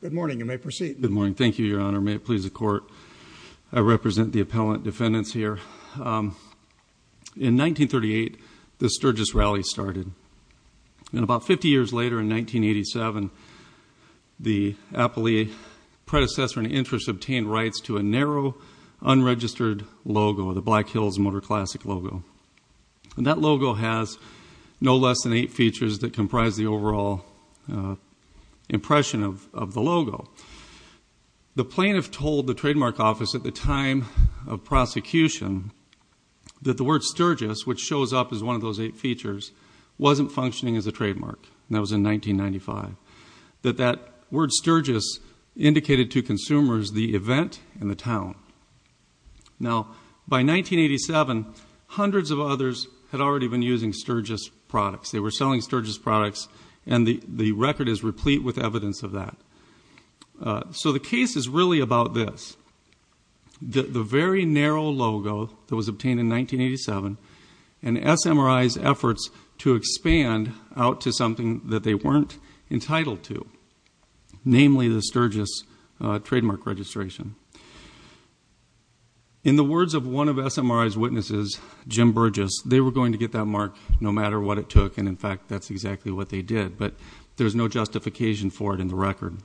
Good morning. You may proceed. Good morning. Thank you, Your Honor. May it please the Court, I represent the appellant defendants here. In 1938, the Sturgis Rally started. And about 50 years later, in 1987, the appellee predecessor in interest obtained rights to a narrow, unregistered logo, the Black Hills Motor Classic logo. And that logo has no less than eight features that comprise the overall impression of the logo. The plaintiff told the trademark office at the time of prosecution that the word Sturgis, which shows up as one of those eight features, wasn't functioning as a trademark. That was in 1995. That that word Sturgis indicated to consumers the event and the town. Now, by 1987, hundreds of others had already been using Sturgis products. They were selling products and the record is replete with evidence of that. So the case is really about this. The very narrow logo that was obtained in 1987 and SMRI's efforts to expand out to something that they weren't entitled to, namely the Sturgis trademark registration. In the words of one of SMRI's witnesses, Jim Burgess, they were going to get that mark no that's exactly what they did, but there's no justification for it in the record.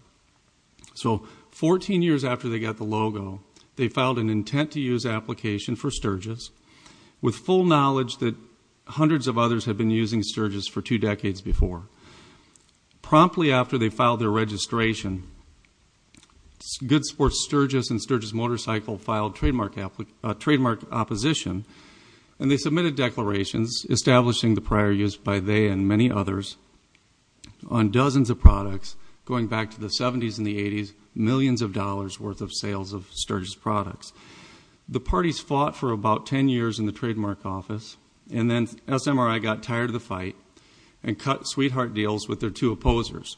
So 14 years after they got the logo, they filed an intent to use application for Sturgis with full knowledge that hundreds of others had been using Sturgis for two decades before. Promptly after they filed their registration, Good Sports Sturgis and Sturgis Motorcycle filed trademark opposition and they submitted declarations establishing the prior use by they and many others on dozens of products going back to the 70s and the 80s, millions of dollars worth of sales of Sturgis products. The parties fought for about 10 years in the trademark office and then SMRI got tired of the fight and cut sweetheart deals with their two opposers.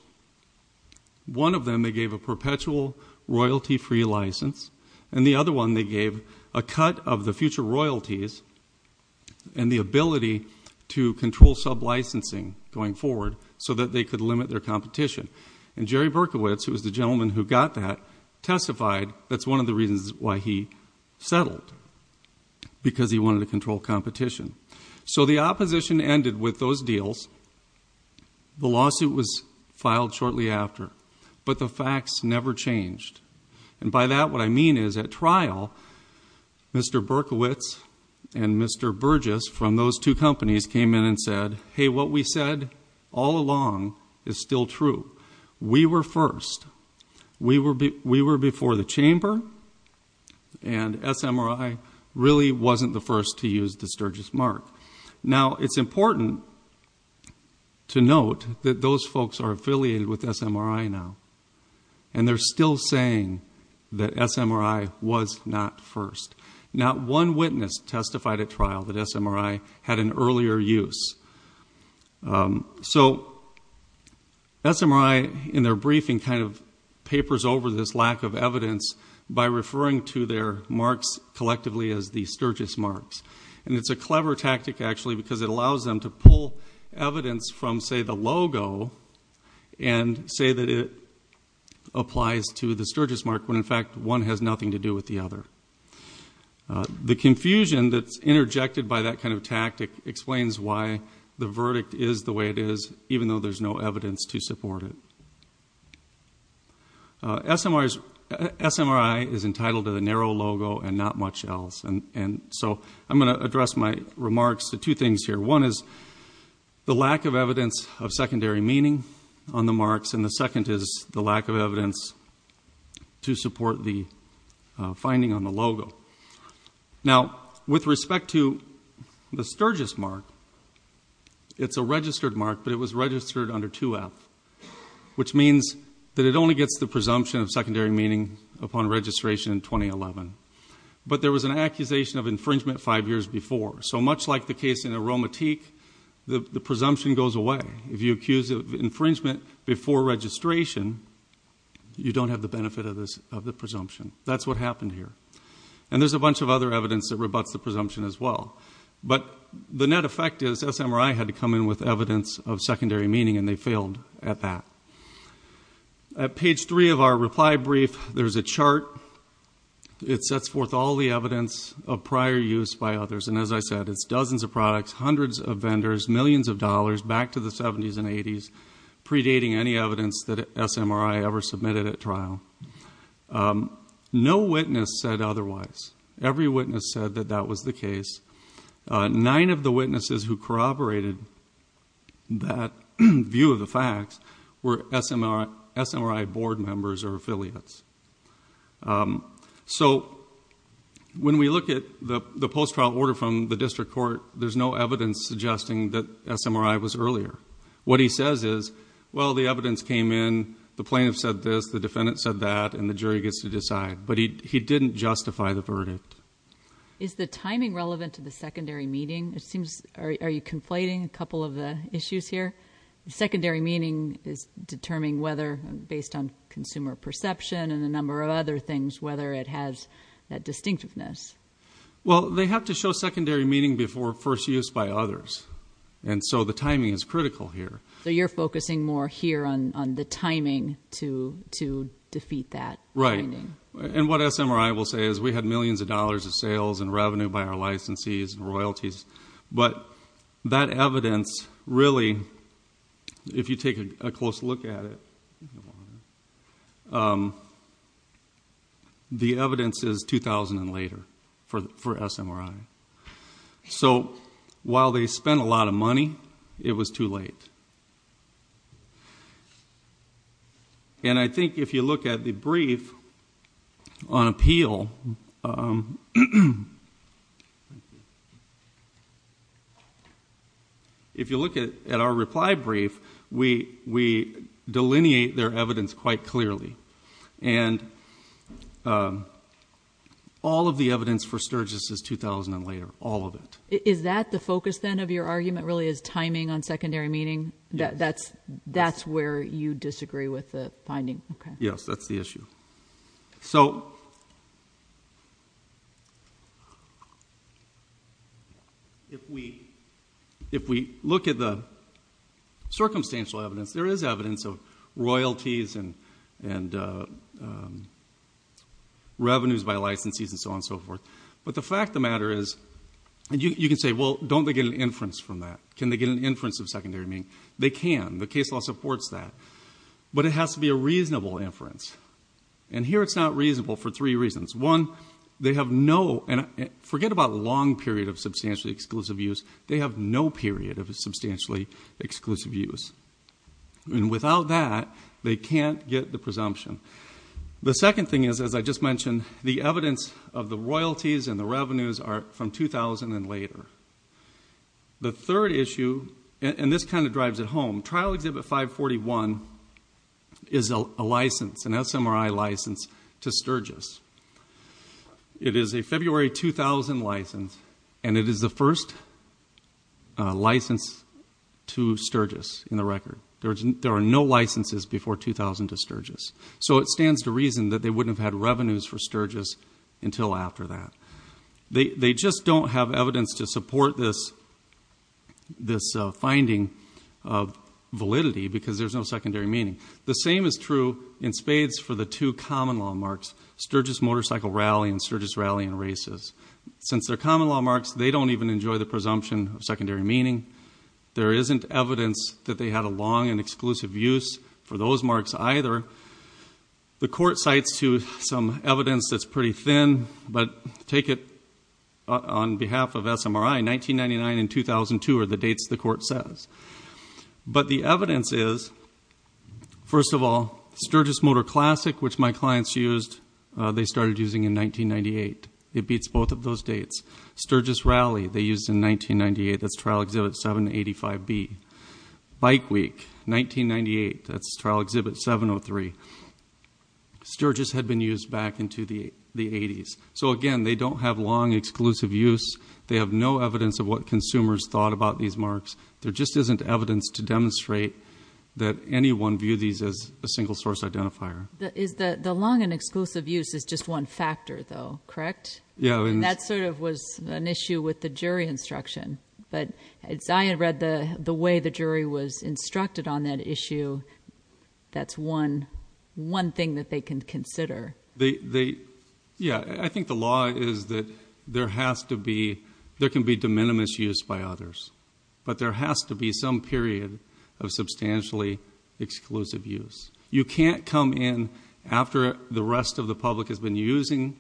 One of them, they gave a perpetual royalty-free license and the other one they gave a cut of the future royalties and the ability to control sub-licensing going forward so that they could limit their competition. And Jerry Berkowitz, who was the gentleman who got that, testified that's one of the reasons why he settled, because he wanted to control competition. So the opposition ended with those deals. The lawsuit was filed shortly after, but the facts never changed. And by that what I mean is at trial, Mr. Berkowitz and Mr. Burgess from those two companies came in and said, hey, what we said all along is still true. We were first. We were before the chamber and SMRI really wasn't the first to use the Sturgis mark. Now it's important to note that those folks are affiliated with SMRI now and they're still saying that SMRI was not first. Not one witness testified at trial that SMRI had an earlier use. So SMRI in their briefing kind of papers over this lack of evidence by referring to their marks actually because it allows them to pull evidence from say the logo and say that it applies to the Sturgis mark when in fact one has nothing to do with the other. The confusion that's interjected by that kind of tactic explains why the verdict is the way it is, even though there's no evidence to support it. SMRI is entitled to the narrow logo and not much else. And so I'm going to address my remarks to two things here. One is the lack of evidence of secondary meaning on the marks and the second is the lack of evidence to support the finding on the logo. Now with respect to the Sturgis mark, it's a registered mark, but it was registered under 2F, which means that it only gets the presumption of secondary meaning upon registration in 2011. But there was an accusation of infringement five years before. So much like the case in Aromatique, the presumption goes away. If you accuse of infringement before registration, you don't have the benefit of the presumption. That's what happened here. And there's a bunch of other evidence that rebuts the presumption as well. But the net effect is SMRI had to come in with evidence of secondary meaning and they failed at that. At page three of our reply brief, there's a chart. It sets forth all the evidence of prior use by others. And as I said, it's dozens of products, hundreds of vendors, millions of dollars back to the 70s and 80s, predating any evidence that SMRI ever submitted at trial. No witness said otherwise. Every witness said that that was the case. Nine of the witnesses who corroborated that view of the facts were SMRI board members or affiliates. So when we look at the post-trial order from the district court, there's no evidence suggesting that SMRI was earlier. What he says is, well, the evidence came in, the plaintiff said this, the defendant said that, and the jury gets to decide. But he didn't justify the verdict. Is the timing relevant to the secondary meaning? Are you conflating a secondary meaning is determining whether, based on consumer perception and a number of other things, whether it has that distinctiveness? Well, they have to show secondary meaning before first use by others. And so the timing is critical here. So you're focusing more here on the timing to defeat that. Right. And what SMRI will say is we had millions of dollars of sales and revenue by our licensees and royalties. But that evidence really, if you take a close look at it, the evidence is 2000 and later for SMRI. So while they spent a lot of money, it was too late. And I think if you look at the brief on appeal, if you look at our reply brief, we delineate their evidence quite clearly. And all of the evidence for Sturgis is 2000 and later. All of it. Is that the focus, then, of your argument really is timing on secondary meaning? That's where you disagree with the finding. Yes, that's the issue. So if we look at the circumstantial evidence, there is evidence of royalties and revenues by licensees and so on and so forth. But the fact inference from that. Can they get an inference of secondary meaning? They can. The case law supports that. But it has to be a reasonable inference. And here it's not reasonable for three reasons. One, they have no, forget about long period of substantially exclusive use, they have no period of substantially exclusive use. And without that, they can't get the presumption. The second thing is, as I just mentioned, the evidence of the royalties and the third issue, and this kind of drives it home, trial exhibit 541 is a license, an SMRI license to Sturgis. It is a February 2000 license and it is the first license to Sturgis in the record. There are no licenses before 2000 to Sturgis. So it stands to reason that they wouldn't have had revenues for Sturgis until after that. They just don't have evidence to support this finding of validity because there's no secondary meaning. The same is true in spades for the two common law marks, Sturgis motorcycle rally and Sturgis rally and races. Since they're common law marks, they don't even enjoy the presumption of secondary meaning. There isn't evidence that they had a long and exclusive use for those marks either. The court cites to some evidence that's pretty thin, but take it on behalf of SMRI, 1999 and 2002 are the dates the court says. But the evidence is, first of all, Sturgis motor classic, which my clients used, they started using in 1998. It beats both of those dates. Sturgis rally, they used in 1998, that's trial exhibit 785B. Bike week, 1998, that's trial exhibit 703. Sturgis had been used back into the 80s. So again, they don't have long exclusive use. They have no evidence of what consumers thought about these marks. There just isn't evidence to demonstrate that anyone viewed these as a single source identifier. The long and exclusive use is just one factor though, correct? Yeah. And that sort of was an issue with the jury instruction. But Zion read the way the jury was instructed on that issue. That's one thing that they can consider. Yeah. I think the law is that there can be de minimis use by others, but there has to be some period of substantially exclusive use. You can't come in after the rest of the public has been using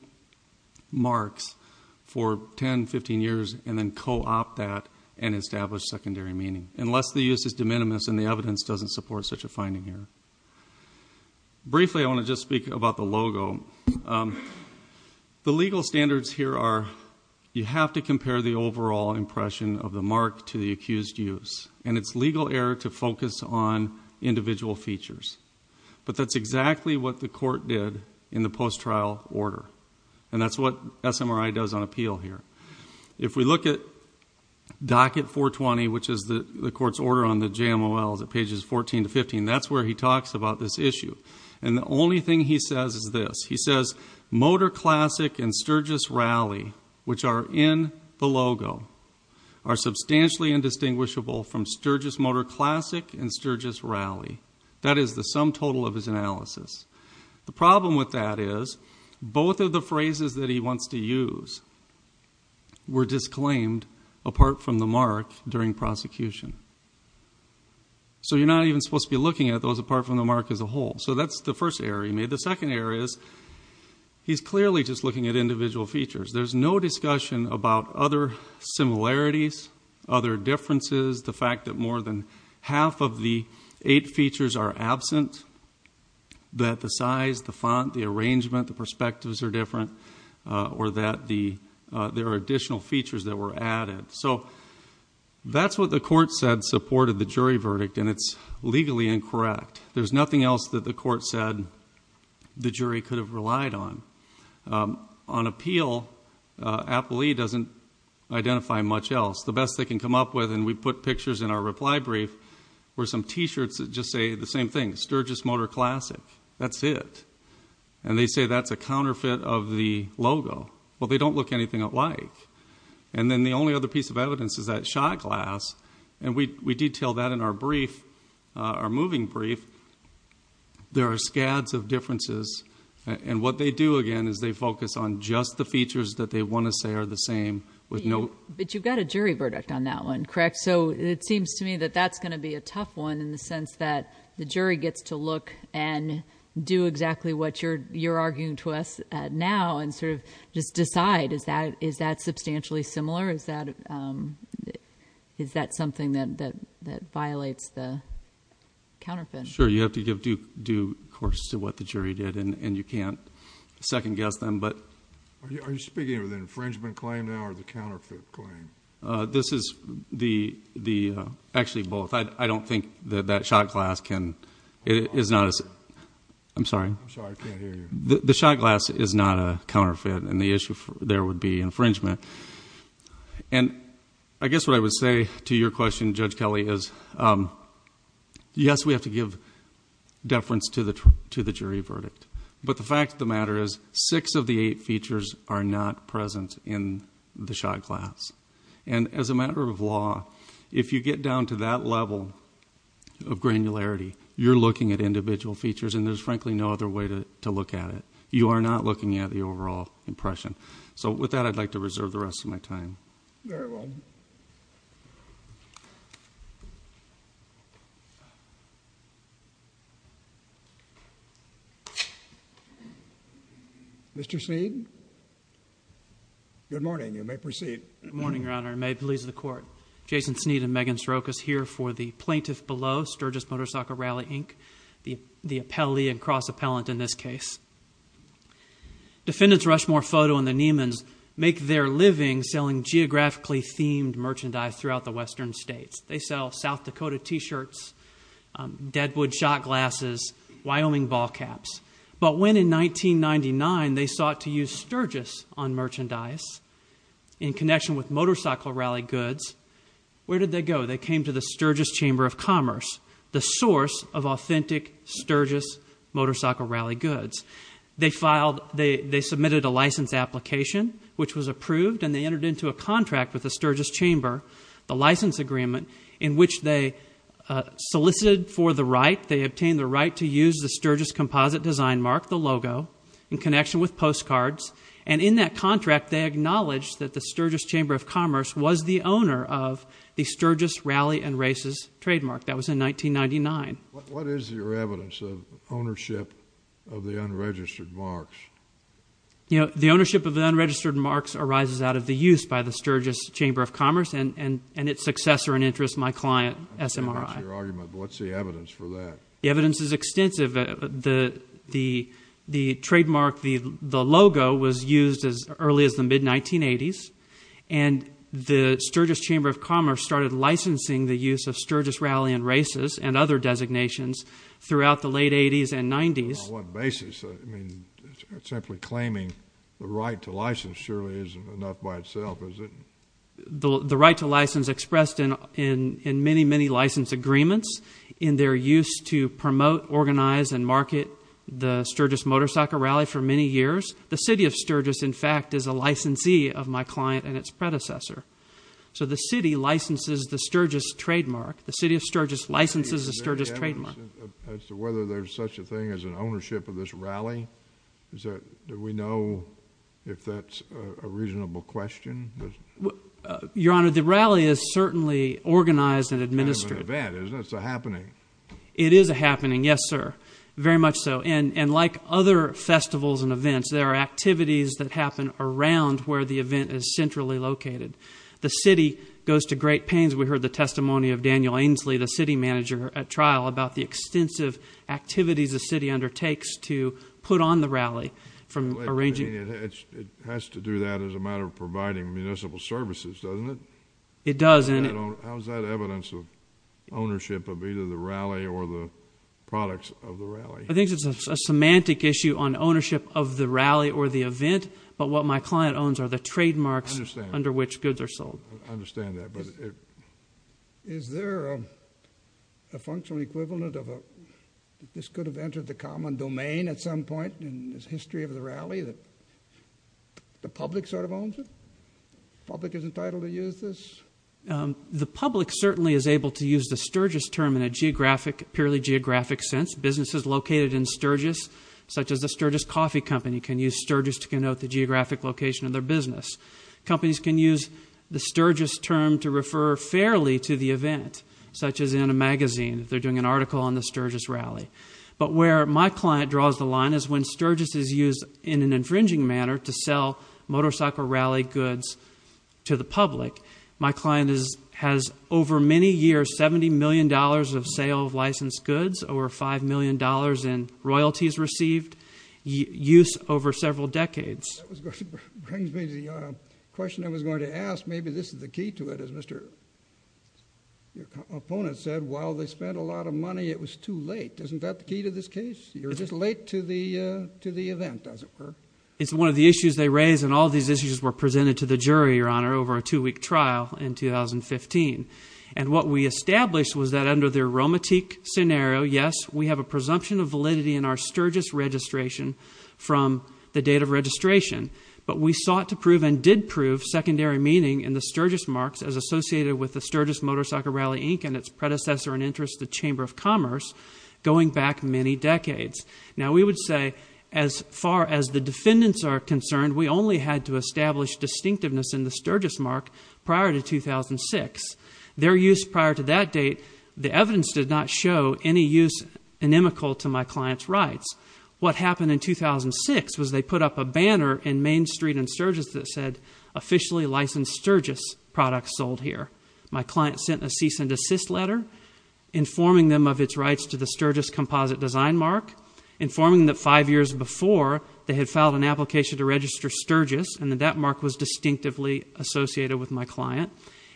marks for 10, 15 years and then co-opt that and establish secondary meaning. Unless the use is de minimis and the evidence doesn't support such a finding here. Briefly, I want to just speak about the logo. The legal standards here are, you have to compare the overall impression of the mark to the accused use. And it's legal error to focus on individual features. But that's exactly what the court did in the post-trial order. And that's what SMRI does on appeal here. If we look at docket 420, which is the court's order on the JMOLs at pages 14 to 15, that's where he talks about this issue. And the only thing he says is this. He says, motor classic and Sturgis rally, which are in the logo are substantially indistinguishable from Sturgis motor classic and Sturgis rally. That is the sum total of his to use were disclaimed apart from the mark during prosecution. So you're not even supposed to be looking at those apart from the mark as a whole. So that's the first error he made. The second error is he's clearly just looking at individual features. There's no discussion about other similarities, other differences, the fact that more than half of the eight features are absent, that the size, the font, the arrangement, the perspectives are or that the there are additional features that were added. So that's what the court said supported the jury verdict. And it's legally incorrect. There's nothing else that the court said the jury could have relied on on appeal. Appley doesn't identify much else. The best they can come up with. And we put pictures in our reply brief where some T-shirts that just say the same thing, Sturgis motor classic, that's it. And they say that's a counterfeit of the logo. Well, they don't look anything like, and then the only other piece of evidence is that shot glass. And we detail that in our brief, our moving brief. There are scads of differences. And what they do again is they focus on just the features that they want to say are the same with no, but you've got a jury verdict on that one, correct? So it seems to me that that's going to be a tough one in the jury gets to look and do exactly what you're, you're arguing to us now and sort of just decide is that, is that substantially similar? Is that, um, is that something that, that, that violates the counterfeit? Sure. You have to give due course to what the jury did and you can't second guess them, but are you speaking of the infringement claim now or the counterfeit claim? Uh, this is the, the, uh, actually both. I don't think that that shot glass can, it is not as, I'm sorry, the shot glass is not a counterfeit and the issue there would be infringement. And I guess what I would say to your question, judge Kelly is, um, yes, we have to give deference to the, to the jury verdict. But the fact of the matter is six of the eight features are not present in the shot glass. And as a matter of law, if you get down to that level of granularity, you're looking at individual features and there's frankly no other way to, to look at it. You are not looking at the overall impression. So with that, I'd like to reserve the rest of my time. Very well. Mr. Sneed. Good morning. You may proceed. Good morning, Your Honor. May it please the court. Jason Sneed and Megan Srokas here for the plaintiff below Sturgis Motorcycle Rally, Inc. The, the appellee and cross appellant in this case. Defendants Rushmore Foto and the Neimans make their living selling geographically themed merchandise throughout the Western States. They sell South Dakota t-shirts, um, Deadwood shot glasses, Wyoming ball caps. But when in 1999 they sought to use Sturgis on merchandise in connection with motorcycle rally goods, where did they go? They came to the Sturgis Chamber of Commerce, the source of authentic which was approved and they entered into a contract with the Sturgis Chamber, the license agreement in which they solicited for the right, they obtained the right to use the Sturgis composite design mark, the logo in connection with postcards. And in that contract, they acknowledged that the Sturgis Chamber of Commerce was the owner of the Sturgis Rally and Races trademark. That was in 1999. What is your evidence of ownership of the unregistered marks? You know, the ownership of the unregistered marks arises out of the use by the Sturgis Chamber of Commerce and, and, and its successor and interest, my client, SMRI. What's the evidence for that? The evidence is extensive. The, the, the trademark, the, the logo was used as early as the mid 1980s and the Sturgis Chamber of Commerce started licensing the use of Sturgis Rally and Races and other designations throughout the late 80s and 90s. On what basis? I mean, simply claiming the right to license surely isn't enough by itself, is it? The right to license expressed in, in, in many, many license agreements in their use to promote, organize, and market the Sturgis Motorcycle Rally for many years. The city of Sturgis, in fact, is a licensee of my client and its predecessor. So the city licenses the Sturgis trademark. The city of Sturgis licenses the Sturgis trademark. As to whether there's such a thing as an ownership of this rally, is that, do we know if that's a reasonable question? Your Honor, the rally is certainly organized and administered. An event, isn't it? It's a happening. It is a happening, yes, sir. Very much so. And, and like other festivals and events, there are activities that happen around where the event is centrally located. The city goes to great pains. We heard the testimony of Daniel Ainslie, the city manager at trial, about the extensive activities the city undertakes to put on the rally from arranging. It has to do that as a matter of providing municipal services, doesn't it? It does, and it. How's that evidence of ownership of either the rally or the products of the rally? I think it's a semantic issue on ownership of the rally or the event, but what my client owns are the trademarks under which goods are sold. I understand that, but it. Is there a functional equivalent of a, this could have entered the common domain at some point in the history of the rally that the public sort of owns it? The public is entitled to use this? The public certainly is able to use the Sturgis term in a geographic, purely geographic sense. Businesses located in Sturgis, such as the Sturgis Coffee Company, can use Sturgis to denote the geographic location of their business. Companies can use the Sturgis term to refer fairly to the event, such as in a magazine, they're doing an article on the Sturgis rally. But where my client draws the line is when Sturgis is used in an infringing manner to sell motorcycle rally goods to the public. My client has over many years, $70 million of sale of licensed goods, over $5 million in royalties received, use over several decades. Brings me to the question I was going to ask. Maybe this is the key to it. As Mr. Opponent said, while they spent a lot of money, it was too late. Isn't that the key to this case? You're just late to the, to the event as it were. It's one of the issues they raise and all these issues were presented to the jury, your honor, over a two week trial in 2015. And what we established was that under their aromatique scenario, yes, we have a presumption of validity in our Sturgis registration from the date of registration. But we sought to prove and did prove secondary meaning in the Sturgis marks as associated with the Sturgis Motorcycle Rally, Inc. and its predecessor and interest, the Chamber of Commerce going back many decades. Now we would say as far as the defendants are concerned, we only had to establish distinctiveness in the Sturgis mark prior to 2006. Their use prior to that date, the evidence did not show any use to my client's rights. What happened in 2006 was they put up a banner in Main Street and Sturgis that said, officially licensed Sturgis products sold here. My client sent a cease and desist letter informing them of its rights to the Sturgis composite design mark, informing that five years before they had filed an application to register Sturgis and that that mark was distinctively associated with my client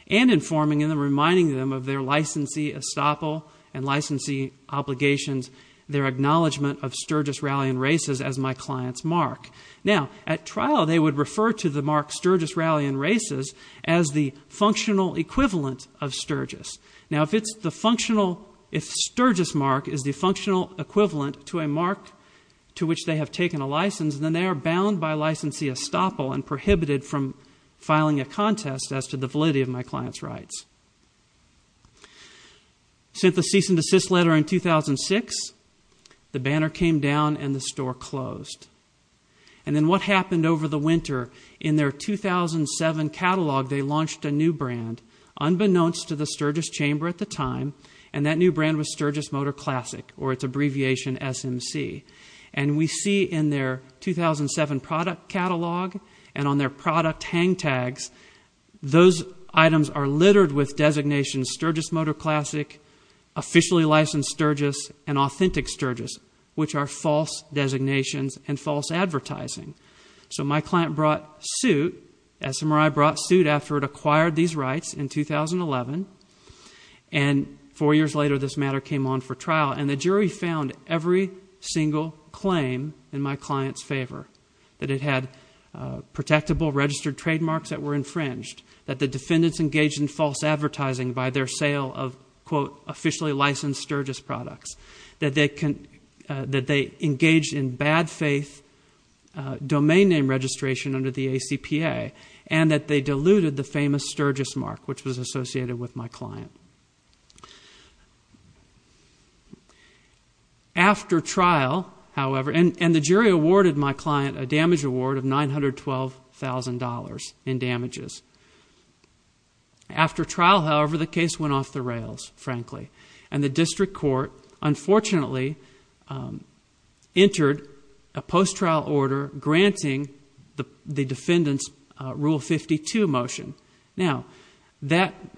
and informing them and reminding them of their licensee estoppel and licensee obligations, their acknowledgement of Sturgis rally and races as my client's mark. Now at trial, they would refer to the mark Sturgis rally and races as the functional equivalent of Sturgis. Now if it's the functional, if Sturgis mark is the functional equivalent to a mark to which they have taken a license, then they are bound by licensee estoppel and prohibited from filing a contest as to the validity of my client's rights. Sent the cease and desist letter in 2006, the banner came down and the store closed. And then what happened over the winter? In their 2007 catalog, they launched a new brand, unbeknownst to the Sturgis chamber at the time, and that new brand was Sturgis Motor Classic, or its abbreviation SMC. And we see in their 2007 product catalog and on their product hang tags, those items are littered with designations Sturgis Motor Classic, Officially Licensed Sturgis, and Authentic Sturgis, which are false designations and false advertising. So my client brought suit, SMRI brought suit after it acquired these rights in 2011, and four years later this matter came on for trial. And the jury found every single claim in my client's favor, that it had protectable registered trademarks that were infringed, that the defendants engaged in false advertising by their sale of quote officially licensed Sturgis products, that they engaged in bad faith domain name registration under the ACPA, and that they diluted the famous Sturgis mark, which was associated with my client. After trial, however, and the jury awarded my client a damage award of $912,000 in damages. After trial, however, the case went off the rails, frankly, and the district court unfortunately entered a post-trial order granting the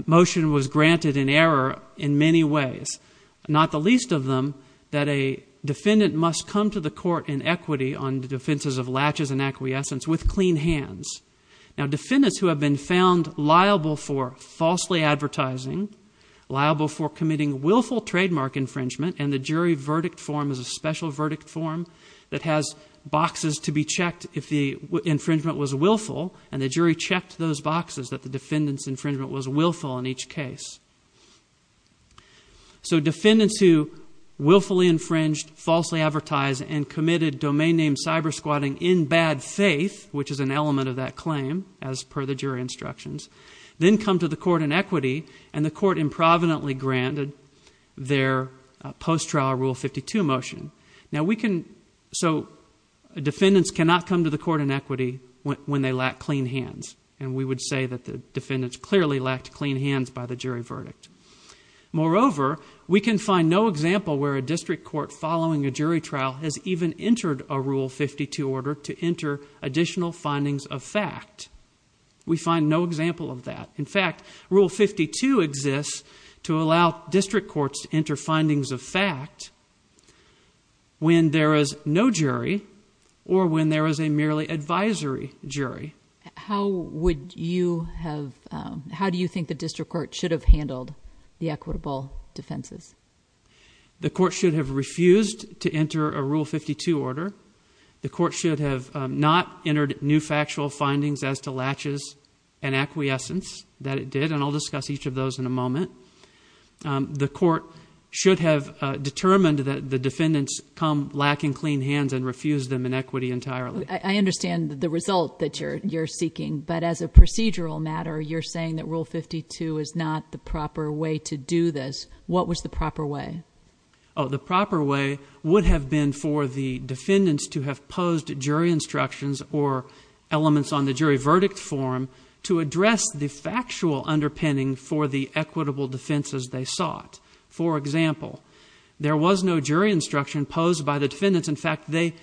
motion was granted in error in many ways. Not the least of them, that a defendant must come to the court in equity on the defenses of latches and acquiescence with clean hands. Now defendants who have been found liable for falsely advertising, liable for committing willful trademark infringement, and the jury verdict form is a special verdict form that has boxes to be checked if the infringement was willful, and the jury checked those boxes that defendants infringement was willful in each case. So defendants who willfully infringed, falsely advertised, and committed domain name cyber squatting in bad faith, which is an element of that claim as per the jury instructions, then come to the court in equity, and the court improvidently granted their post-trial rule 52 motion. Now we can, so defendants cannot come to court in equity when they lack clean hands, and we would say that the defendants clearly lacked clean hands by the jury verdict. Moreover, we can find no example where a district court following a jury trial has even entered a rule 52 order to enter additional findings of fact. We find no example of that. In fact, rule 52 exists to allow district courts to enter findings of fact when there is no jury or when there is a merely advisory jury. How would you have, how do you think the district court should have handled the equitable defenses? The court should have refused to enter a rule 52 order. The court should have not entered new factual findings as to latches and acquiescence that it did, and I'll discuss each of those in a moment. Um, the court should have determined that the defendants come lacking clean hands and refuse them in equity entirely. I understand the result that you're, you're seeking, but as a procedural matter, you're saying that rule 52 is not the proper way to do this. What was the proper way? Oh, the proper way would have been for the defendants to have posed jury instructions or elements on the jury verdict form to address the factual underpinning for the equitable defenses they sought. For example, there was no jury instruction posed by the defendants. In fact, they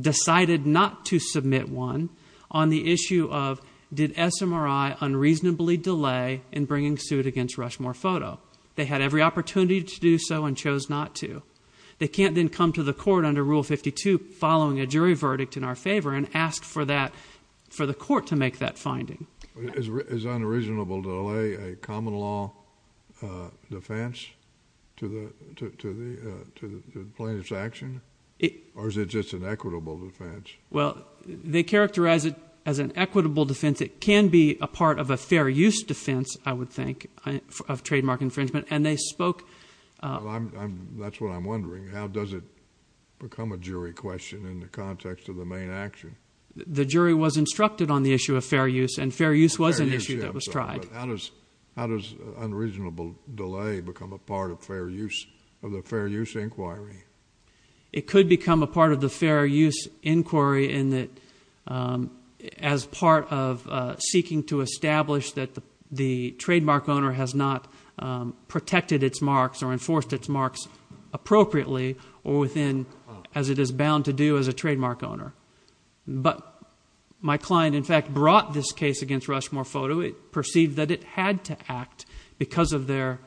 decided not to submit one on the issue of did SMRI unreasonably delay in bringing suit against Rushmore Photo. They had every opportunity to do so and chose not to. They can't then come to the for the court to make that finding is unreasonable to lay a common law defense to the to the to the plaintiff's action. Or is it just an equitable defense? Well, they characterize it as an equitable defense. It can be a part of a fair use defense, I would think of trademark infringement, and they spoke. That's what I'm wondering. How does it become a jury question in the context of the main action? The jury was instructed on the issue of fair use and fair use was an issue that was tried. How does how does unreasonable delay become a part of fair use of the fair use inquiry? It could become a part of the fair use inquiry in that as part of seeking to establish that the the trademark owner has not protected its marks or enforced its marks appropriately or within as it is bound to do as a trademark owner. But my client in fact brought this case against Rushmore Photo. It perceived that it had to act because of their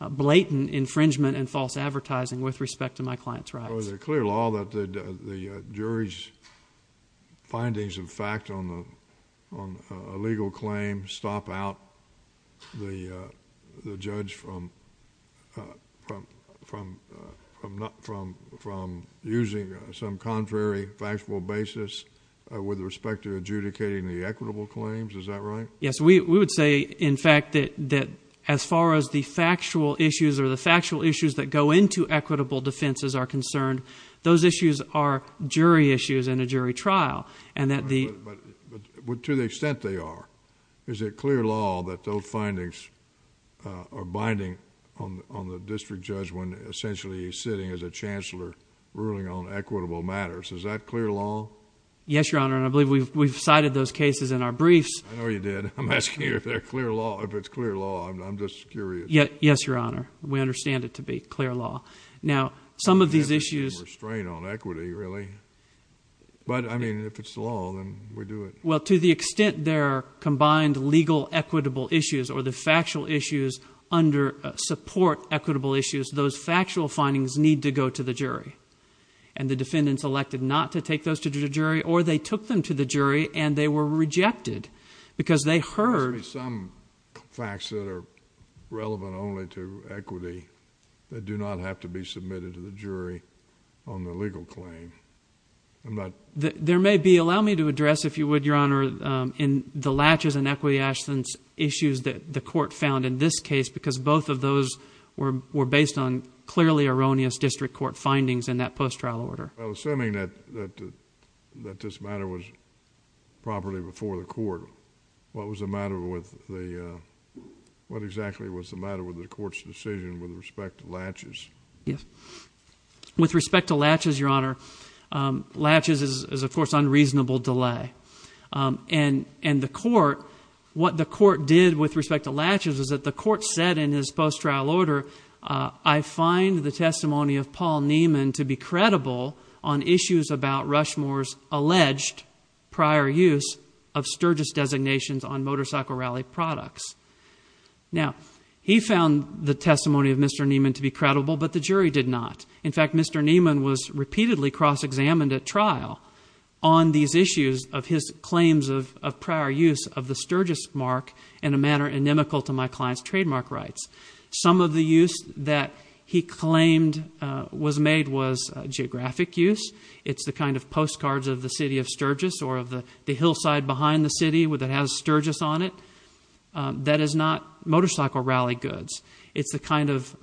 blatant infringement and false advertising with respect to my client's rights. Is it clear law that the jury's fact on the on a legal claim stop out the the judge from from from not from from using some contrary factual basis with respect to adjudicating the equitable claims? Is that right? Yes, we would say in fact that that as far as the factual issues or the factual issues that go into equitable defenses are concerned, those issues are jury issues in a jury trial and that the but to the extent they are, is it clear law that those findings are binding on on the district judge when essentially he's sitting as a chancellor ruling on equitable matters? Is that clear law? Yes, your honor. And I believe we've we've cited those cases in our briefs. I know you did. I'm asking you if they're clear law. If it's clear law. I'm just curious. Yes, your honor. We understand it to be clear law. Now, some of these issues restrain on equity, really. But I mean, if it's law, then we do it. Well, to the extent there are combined legal equitable issues or the factual issues under support equitable issues, those factual findings need to go to the jury and the defendants elected not to take those to the jury or they took them to the jury and they were they do not have to be submitted to the jury on the legal claim. There may be allow me to address, if you would, your honor, in the latches and equity actions issues that the court found in this case, because both of those were were based on clearly erroneous district court findings in that post trial order. Assuming that that that this matter was properly before the court, what was the matter with the What exactly was the matter with the court's decision with respect to latches? Yes. With respect to latches, your honor. Latches is, of course, unreasonable delay. And and the court, what the court did with respect to latches is that the court said in his post trial order, I find the testimony of Paul Neiman to be credible on issues about Rushmore's Now, he found the testimony of Mr. Neiman to be credible, but the jury did not. In fact, Mr. Neiman was repeatedly cross-examined at trial on these issues of his claims of prior use of the Sturgis mark in a manner inimical to my client's trademark rights. Some of the use that he claimed was made was geographic use. It's the kind of postcards of the city of Sturgis or of the hillside behind the city that has Sturgis on it. That is not motorcycle rally goods. It's the kind of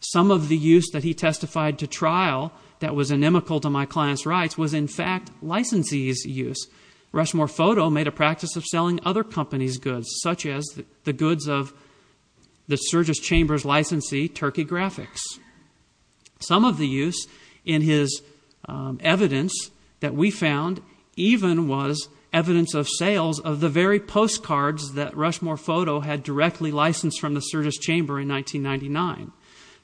some of the use that he testified to trial that was inimical to my client's rights was, in fact, licensee's use. Rushmore Photo made a practice of selling other companies goods such as the goods of the Sturgis Chambers licensee, Turkey Graphics. Some of the use in his evidence that we found even was evidence of sales of the very postcards that Rushmore Photo had directly licensed from the Sturgis Chamber in 1999.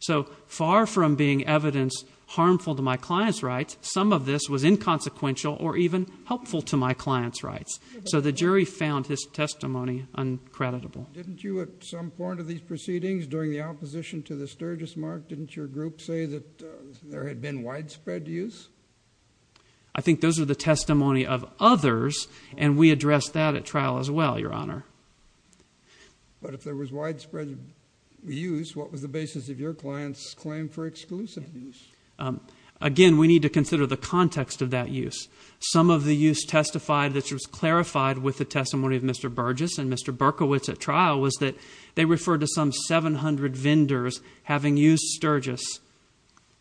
So far from being evidence harmful to my client's rights, some of this was inconsequential or even helpful to my client's rights. So the jury found his testimony uncreditable. Didn't you at some point of these proceedings during the opposition to the Sturgis mark, your group say that there had been widespread use? I think those are the testimony of others, and we addressed that at trial as well, Your Honor. But if there was widespread use, what was the basis of your client's claim for exclusive use? Again, we need to consider the context of that use. Some of the use testified that was clarified with the testimony of Mr. Burgess and Mr. Berkowitz at trial was that they referred to 700 vendors having used Sturgis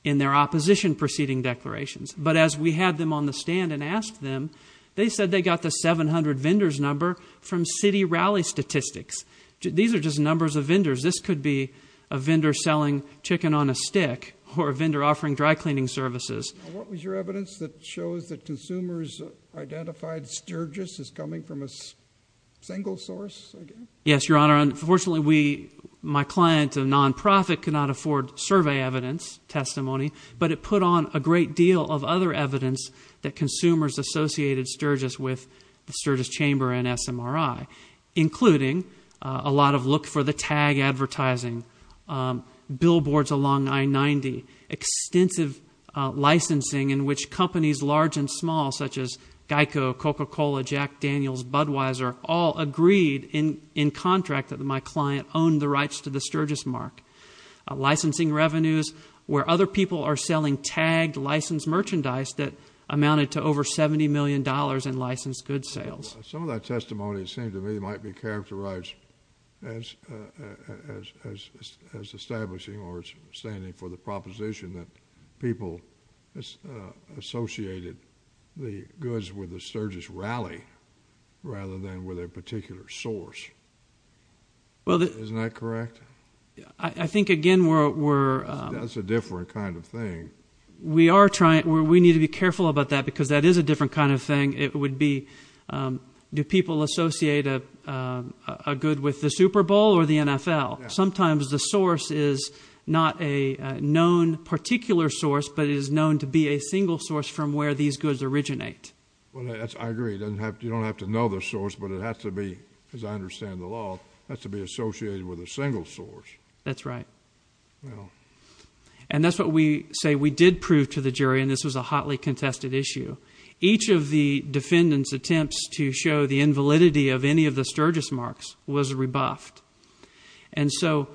in their opposition proceeding declarations. But as we had them on the stand and asked them, they said they got the 700 vendors number from city rally statistics. These are just numbers of vendors. This could be a vendor selling chicken on a stick or a vendor offering dry cleaning services. What was your evidence that shows that consumers identified Sturgis as coming from a single source? Yes, Your Honor. Unfortunately, my client, a non-profit, could not afford survey evidence testimony, but it put on a great deal of other evidence that consumers associated Sturgis with the Sturgis Chamber and SMRI, including a lot of look for the tag advertising, billboards along I-90, extensive licensing in which companies large and small such as in contract that my client owned the rights to the Sturgis mark, licensing revenues where other people are selling tagged licensed merchandise that amounted to over $70 million in licensed goods sales. Some of that testimony, it seemed to me, might be characterized as establishing or standing for the proposition that people associated the goods with the Sturgis rally rather than with a particular source. Isn't that correct? I think, again, we're... That's a different kind of thing. We are trying. We need to be careful about that because that is a different kind of thing. It would be, do people associate a good with the Super Bowl or the NFL? Sometimes the source is not a known particular source, but it is known to be a single source from where these goods originate. I agree. You don't have to know the source, but it has to be, as I understand the law, has to be associated with a single source. That's right. And that's what we say we did prove to the jury, and this was a hotly contested issue. Each of the defendants' attempts to show the invalidity of any of the Sturgis marks was rebuffed. And so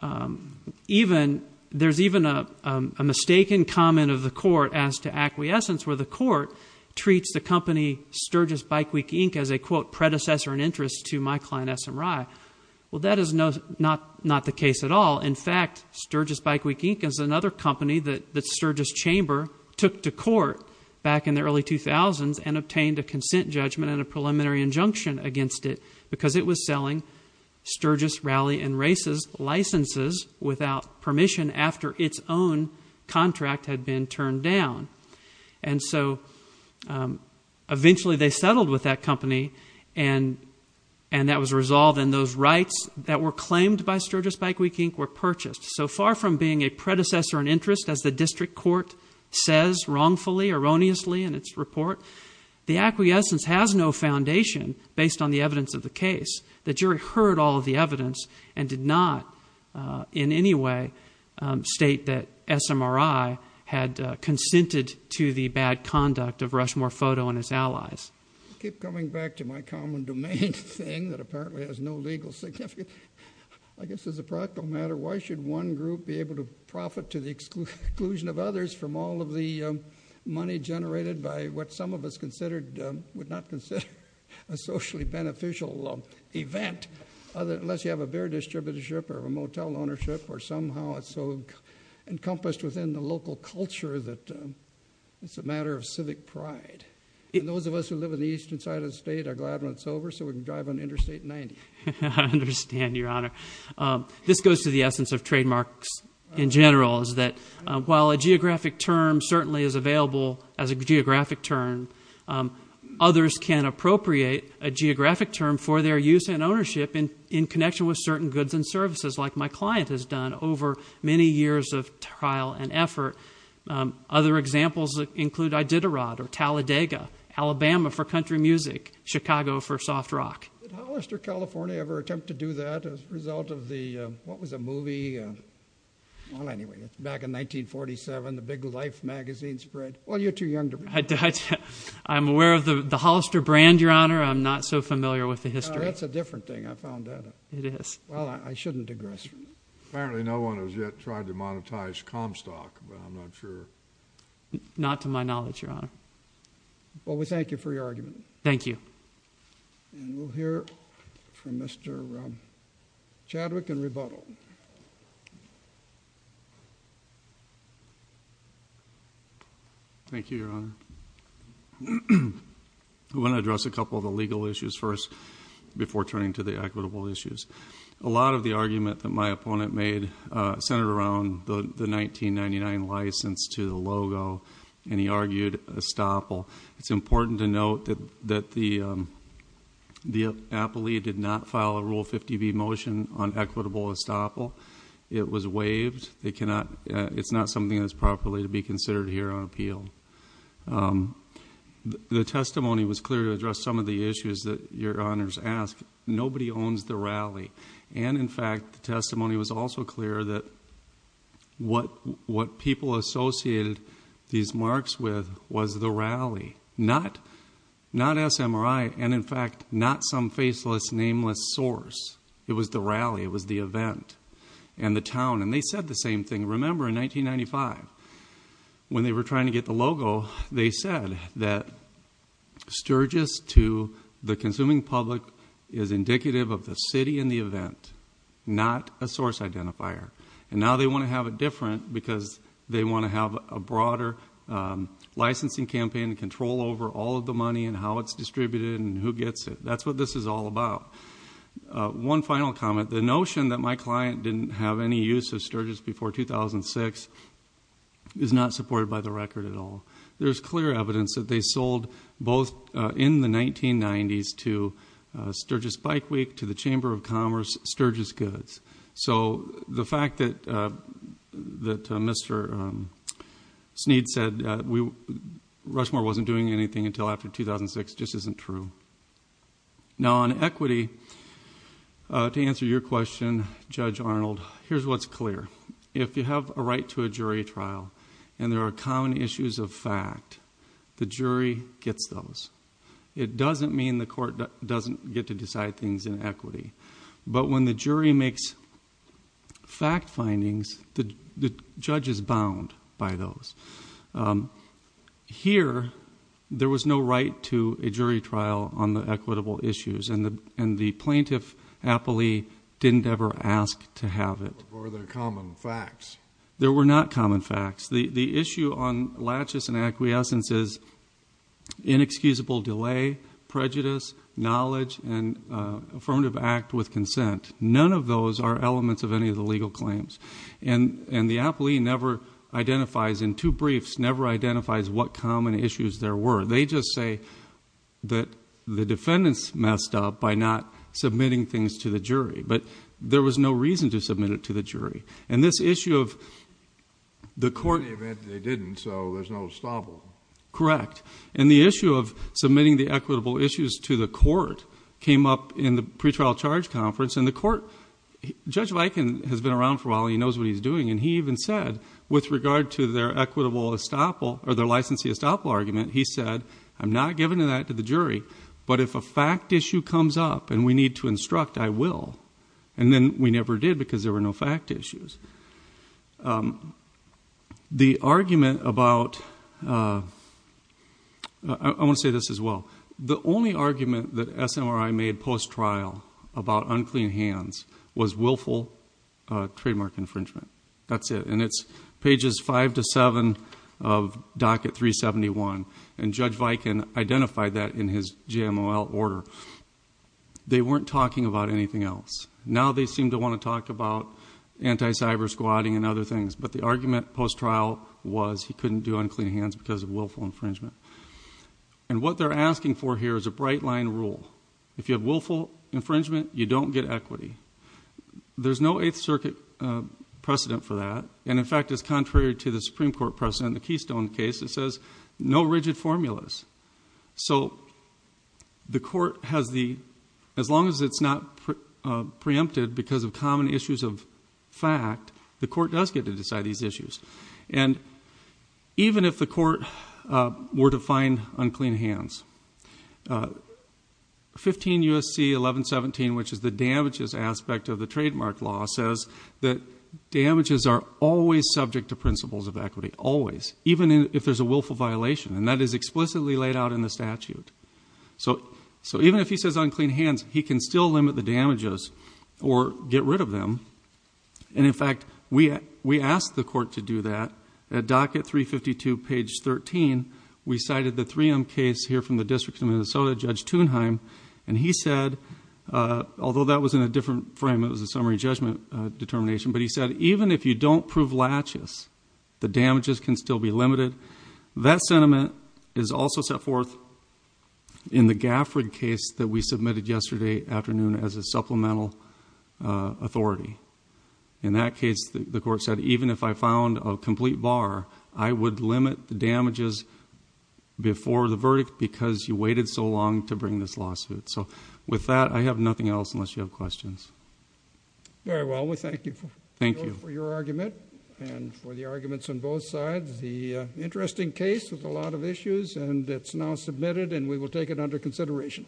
there's even a mistaken comment of the court as to acquiescence where the court treats the company Sturgis Bike Week, Inc. as a, quote, predecessor and interest to my client, SMRI. Well, that is not the case at all. In fact, Sturgis Bike Week, Inc. is another company that Sturgis Chamber took to court back in the early 2000s and obtained a consent judgment and a preliminary injunction against it because it was selling Sturgis Rally and Races licenses without permission after its own contract had been turned down. And so eventually they settled with that company, and that was resolved, and those rights that were claimed by Sturgis Bike Week, Inc. were purchased. So far from being a predecessor and interest, as the district court says wrongfully, erroneously in its report, the acquiescence has no foundation based on the state that SMRI had consented to the bad conduct of Rushmore Photo and his allies. I keep coming back to my common domain thing that apparently has no legal significance. I guess as a practical matter, why should one group be able to profit to the exclusion of others from all of the money generated by what some of us would not consider a socially beneficial event unless you have a beer distributorship or a motel ownership or somehow it's so encompassed within the local culture that it's a matter of civic pride. And those of us who live in the eastern side of the state are glad when it's over so we can drive on Interstate 90. I understand, Your Honor. This goes to the essence of trademarks in general is that while a geographic term certainly is available as a geographic term, others can appropriate a geographic term for their use and ownership in connection with certain goods and services like my client has done over many years of trial and effort. Other examples include Iditarod or Talladega, Alabama for country music, Chicago for soft rock. Did Hollister, California ever attempt to do that as a result of the, what was the movie? Well, anyway, it's back in 1947, the big Life magazine spread. Well, you're too young to remember. I'm aware of the Hollister brand, Your Honor. I'm not so familiar with the history. That's a different thing, I found out. It is. Well, I shouldn't digress from it. Apparently no one has yet tried to monetize Comstock, but I'm not sure. Not to my knowledge, Your Honor. Well, we thank you for your argument. Thank you. And we'll hear from Mr. Chadwick in rebuttal. Thank you, Your Honor. I want to address a couple of the legal issues first before turning to the equitable issues. A lot of the argument that my opponent made centered around the 1999 license to the logo, and he argued estoppel. It's important to note that the appellee did not file a Rule 50b motion on equitable estoppel. It was waived. It's not something that's properly to be considered here on appeal. The testimony was clear to address some of the issues that Your Honors ask. Nobody owns the rally. And in fact, the testimony was also clear that what people associated these marks with was the rally, not SMRI, and in fact, not some faceless, nameless source. It was the rally. It was the event and the town. And they said the same thing. Remember, in 1995, when they were trying to get the logo, they said that Sturgis to the consuming public is indicative of the city and the event, not a source identifier. And now they want to have it different because they want to have a broader licensing campaign to control over all of the money and how it's distributed and who gets it. That's what this is all about. One final comment. The notion that my client didn't have any use of Sturgis before 2006 is not supported by the record at all. There's clear evidence that they sold both in the 1990s to Sturgis Bike Week, to the Chamber of Commerce, Sturgis Goods. So the fact that Mr. Sneed said Rushmore wasn't doing anything until after 2006 just isn't true. Now on equity, to answer your question, Judge Arnold, here's what's clear. If you have a right to a jury trial and there are common issues of fact, the jury gets those. It doesn't mean the court doesn't get to decide things in equity. But when the jury makes fact findings, the judge is bound by those. Here, there was no right to a jury trial on the equitable issues and the plaintiff didn't ever ask to have it. Were there common facts? There were not common facts. The issue on laches and acquiescence is inexcusable delay, prejudice, knowledge, and affirmative act with consent. None of those are elements of any of the legal claims. And the appellee never identifies, in two briefs, never identifies what common issues there were. They just say that the but there was no reason to submit it to the jury. In the event that they didn't, so there's no estoppel. Correct. And the issue of submitting the equitable issues to the court came up in the pretrial charge conference. And the court, Judge Viken has been around for a while, he knows what he's doing, and he even said, with regard to their equitable estoppel, or their licensee estoppel argument, he said, I'm not giving that to the jury, but if a fact issue comes up and we need to instruct, I will. And then we never did because there were no fact issues. The argument about, I want to say this as well, the only argument that SMRI made post-trial about unclean hands was willful trademark infringement. That's it. And it's pages five to seven of docket 371. And Judge Viken identified that in his GMOL order. They weren't talking about anything else. Now they seem to want to talk about anti-cyber squatting and other things. But the argument post-trial was he couldn't do unclean hands because of willful infringement. And what they're asking for here is a bright line rule. If you have willful infringement, you don't get equity. There's no Eighth Circuit precedent for that. And in fact, as contrary to the Supreme Court precedent, the Keystone case, it says no rigid formulas. So the court has the, as long as it's not preempted because of common issues of fact, the court does get to decide these issues. And even if the court were to find unclean hands, 15 USC 1117, which is the damages aspect of the trademark law says that damages are always subject to principles of equity, always, even if there's a willful violation. And that is explicitly laid out in the statute. So even if he says unclean hands, he can still limit the damages or get rid of them. And in fact, we asked the court to do that. At docket 352, page 13, we cited the 3M case here from the District of Minnesota, Judge Thunheim. And he said, although that was in a different frame, it was a summary judgment determination. But he said, even if you don't prove latches, the damages can still be limited. That sentiment is also set forth in the Gafford case that we submitted yesterday afternoon as a supplemental authority. In that case, the court said, even if I found a complete bar, I would limit the damages before the verdict because you waited so long to bring this lawsuit. So with that, I have nothing else unless you have questions. Very well. We thank you for your argument and for the arguments on both sides. The interesting case with a lot of issues and it's now submitted and we will take it under consideration.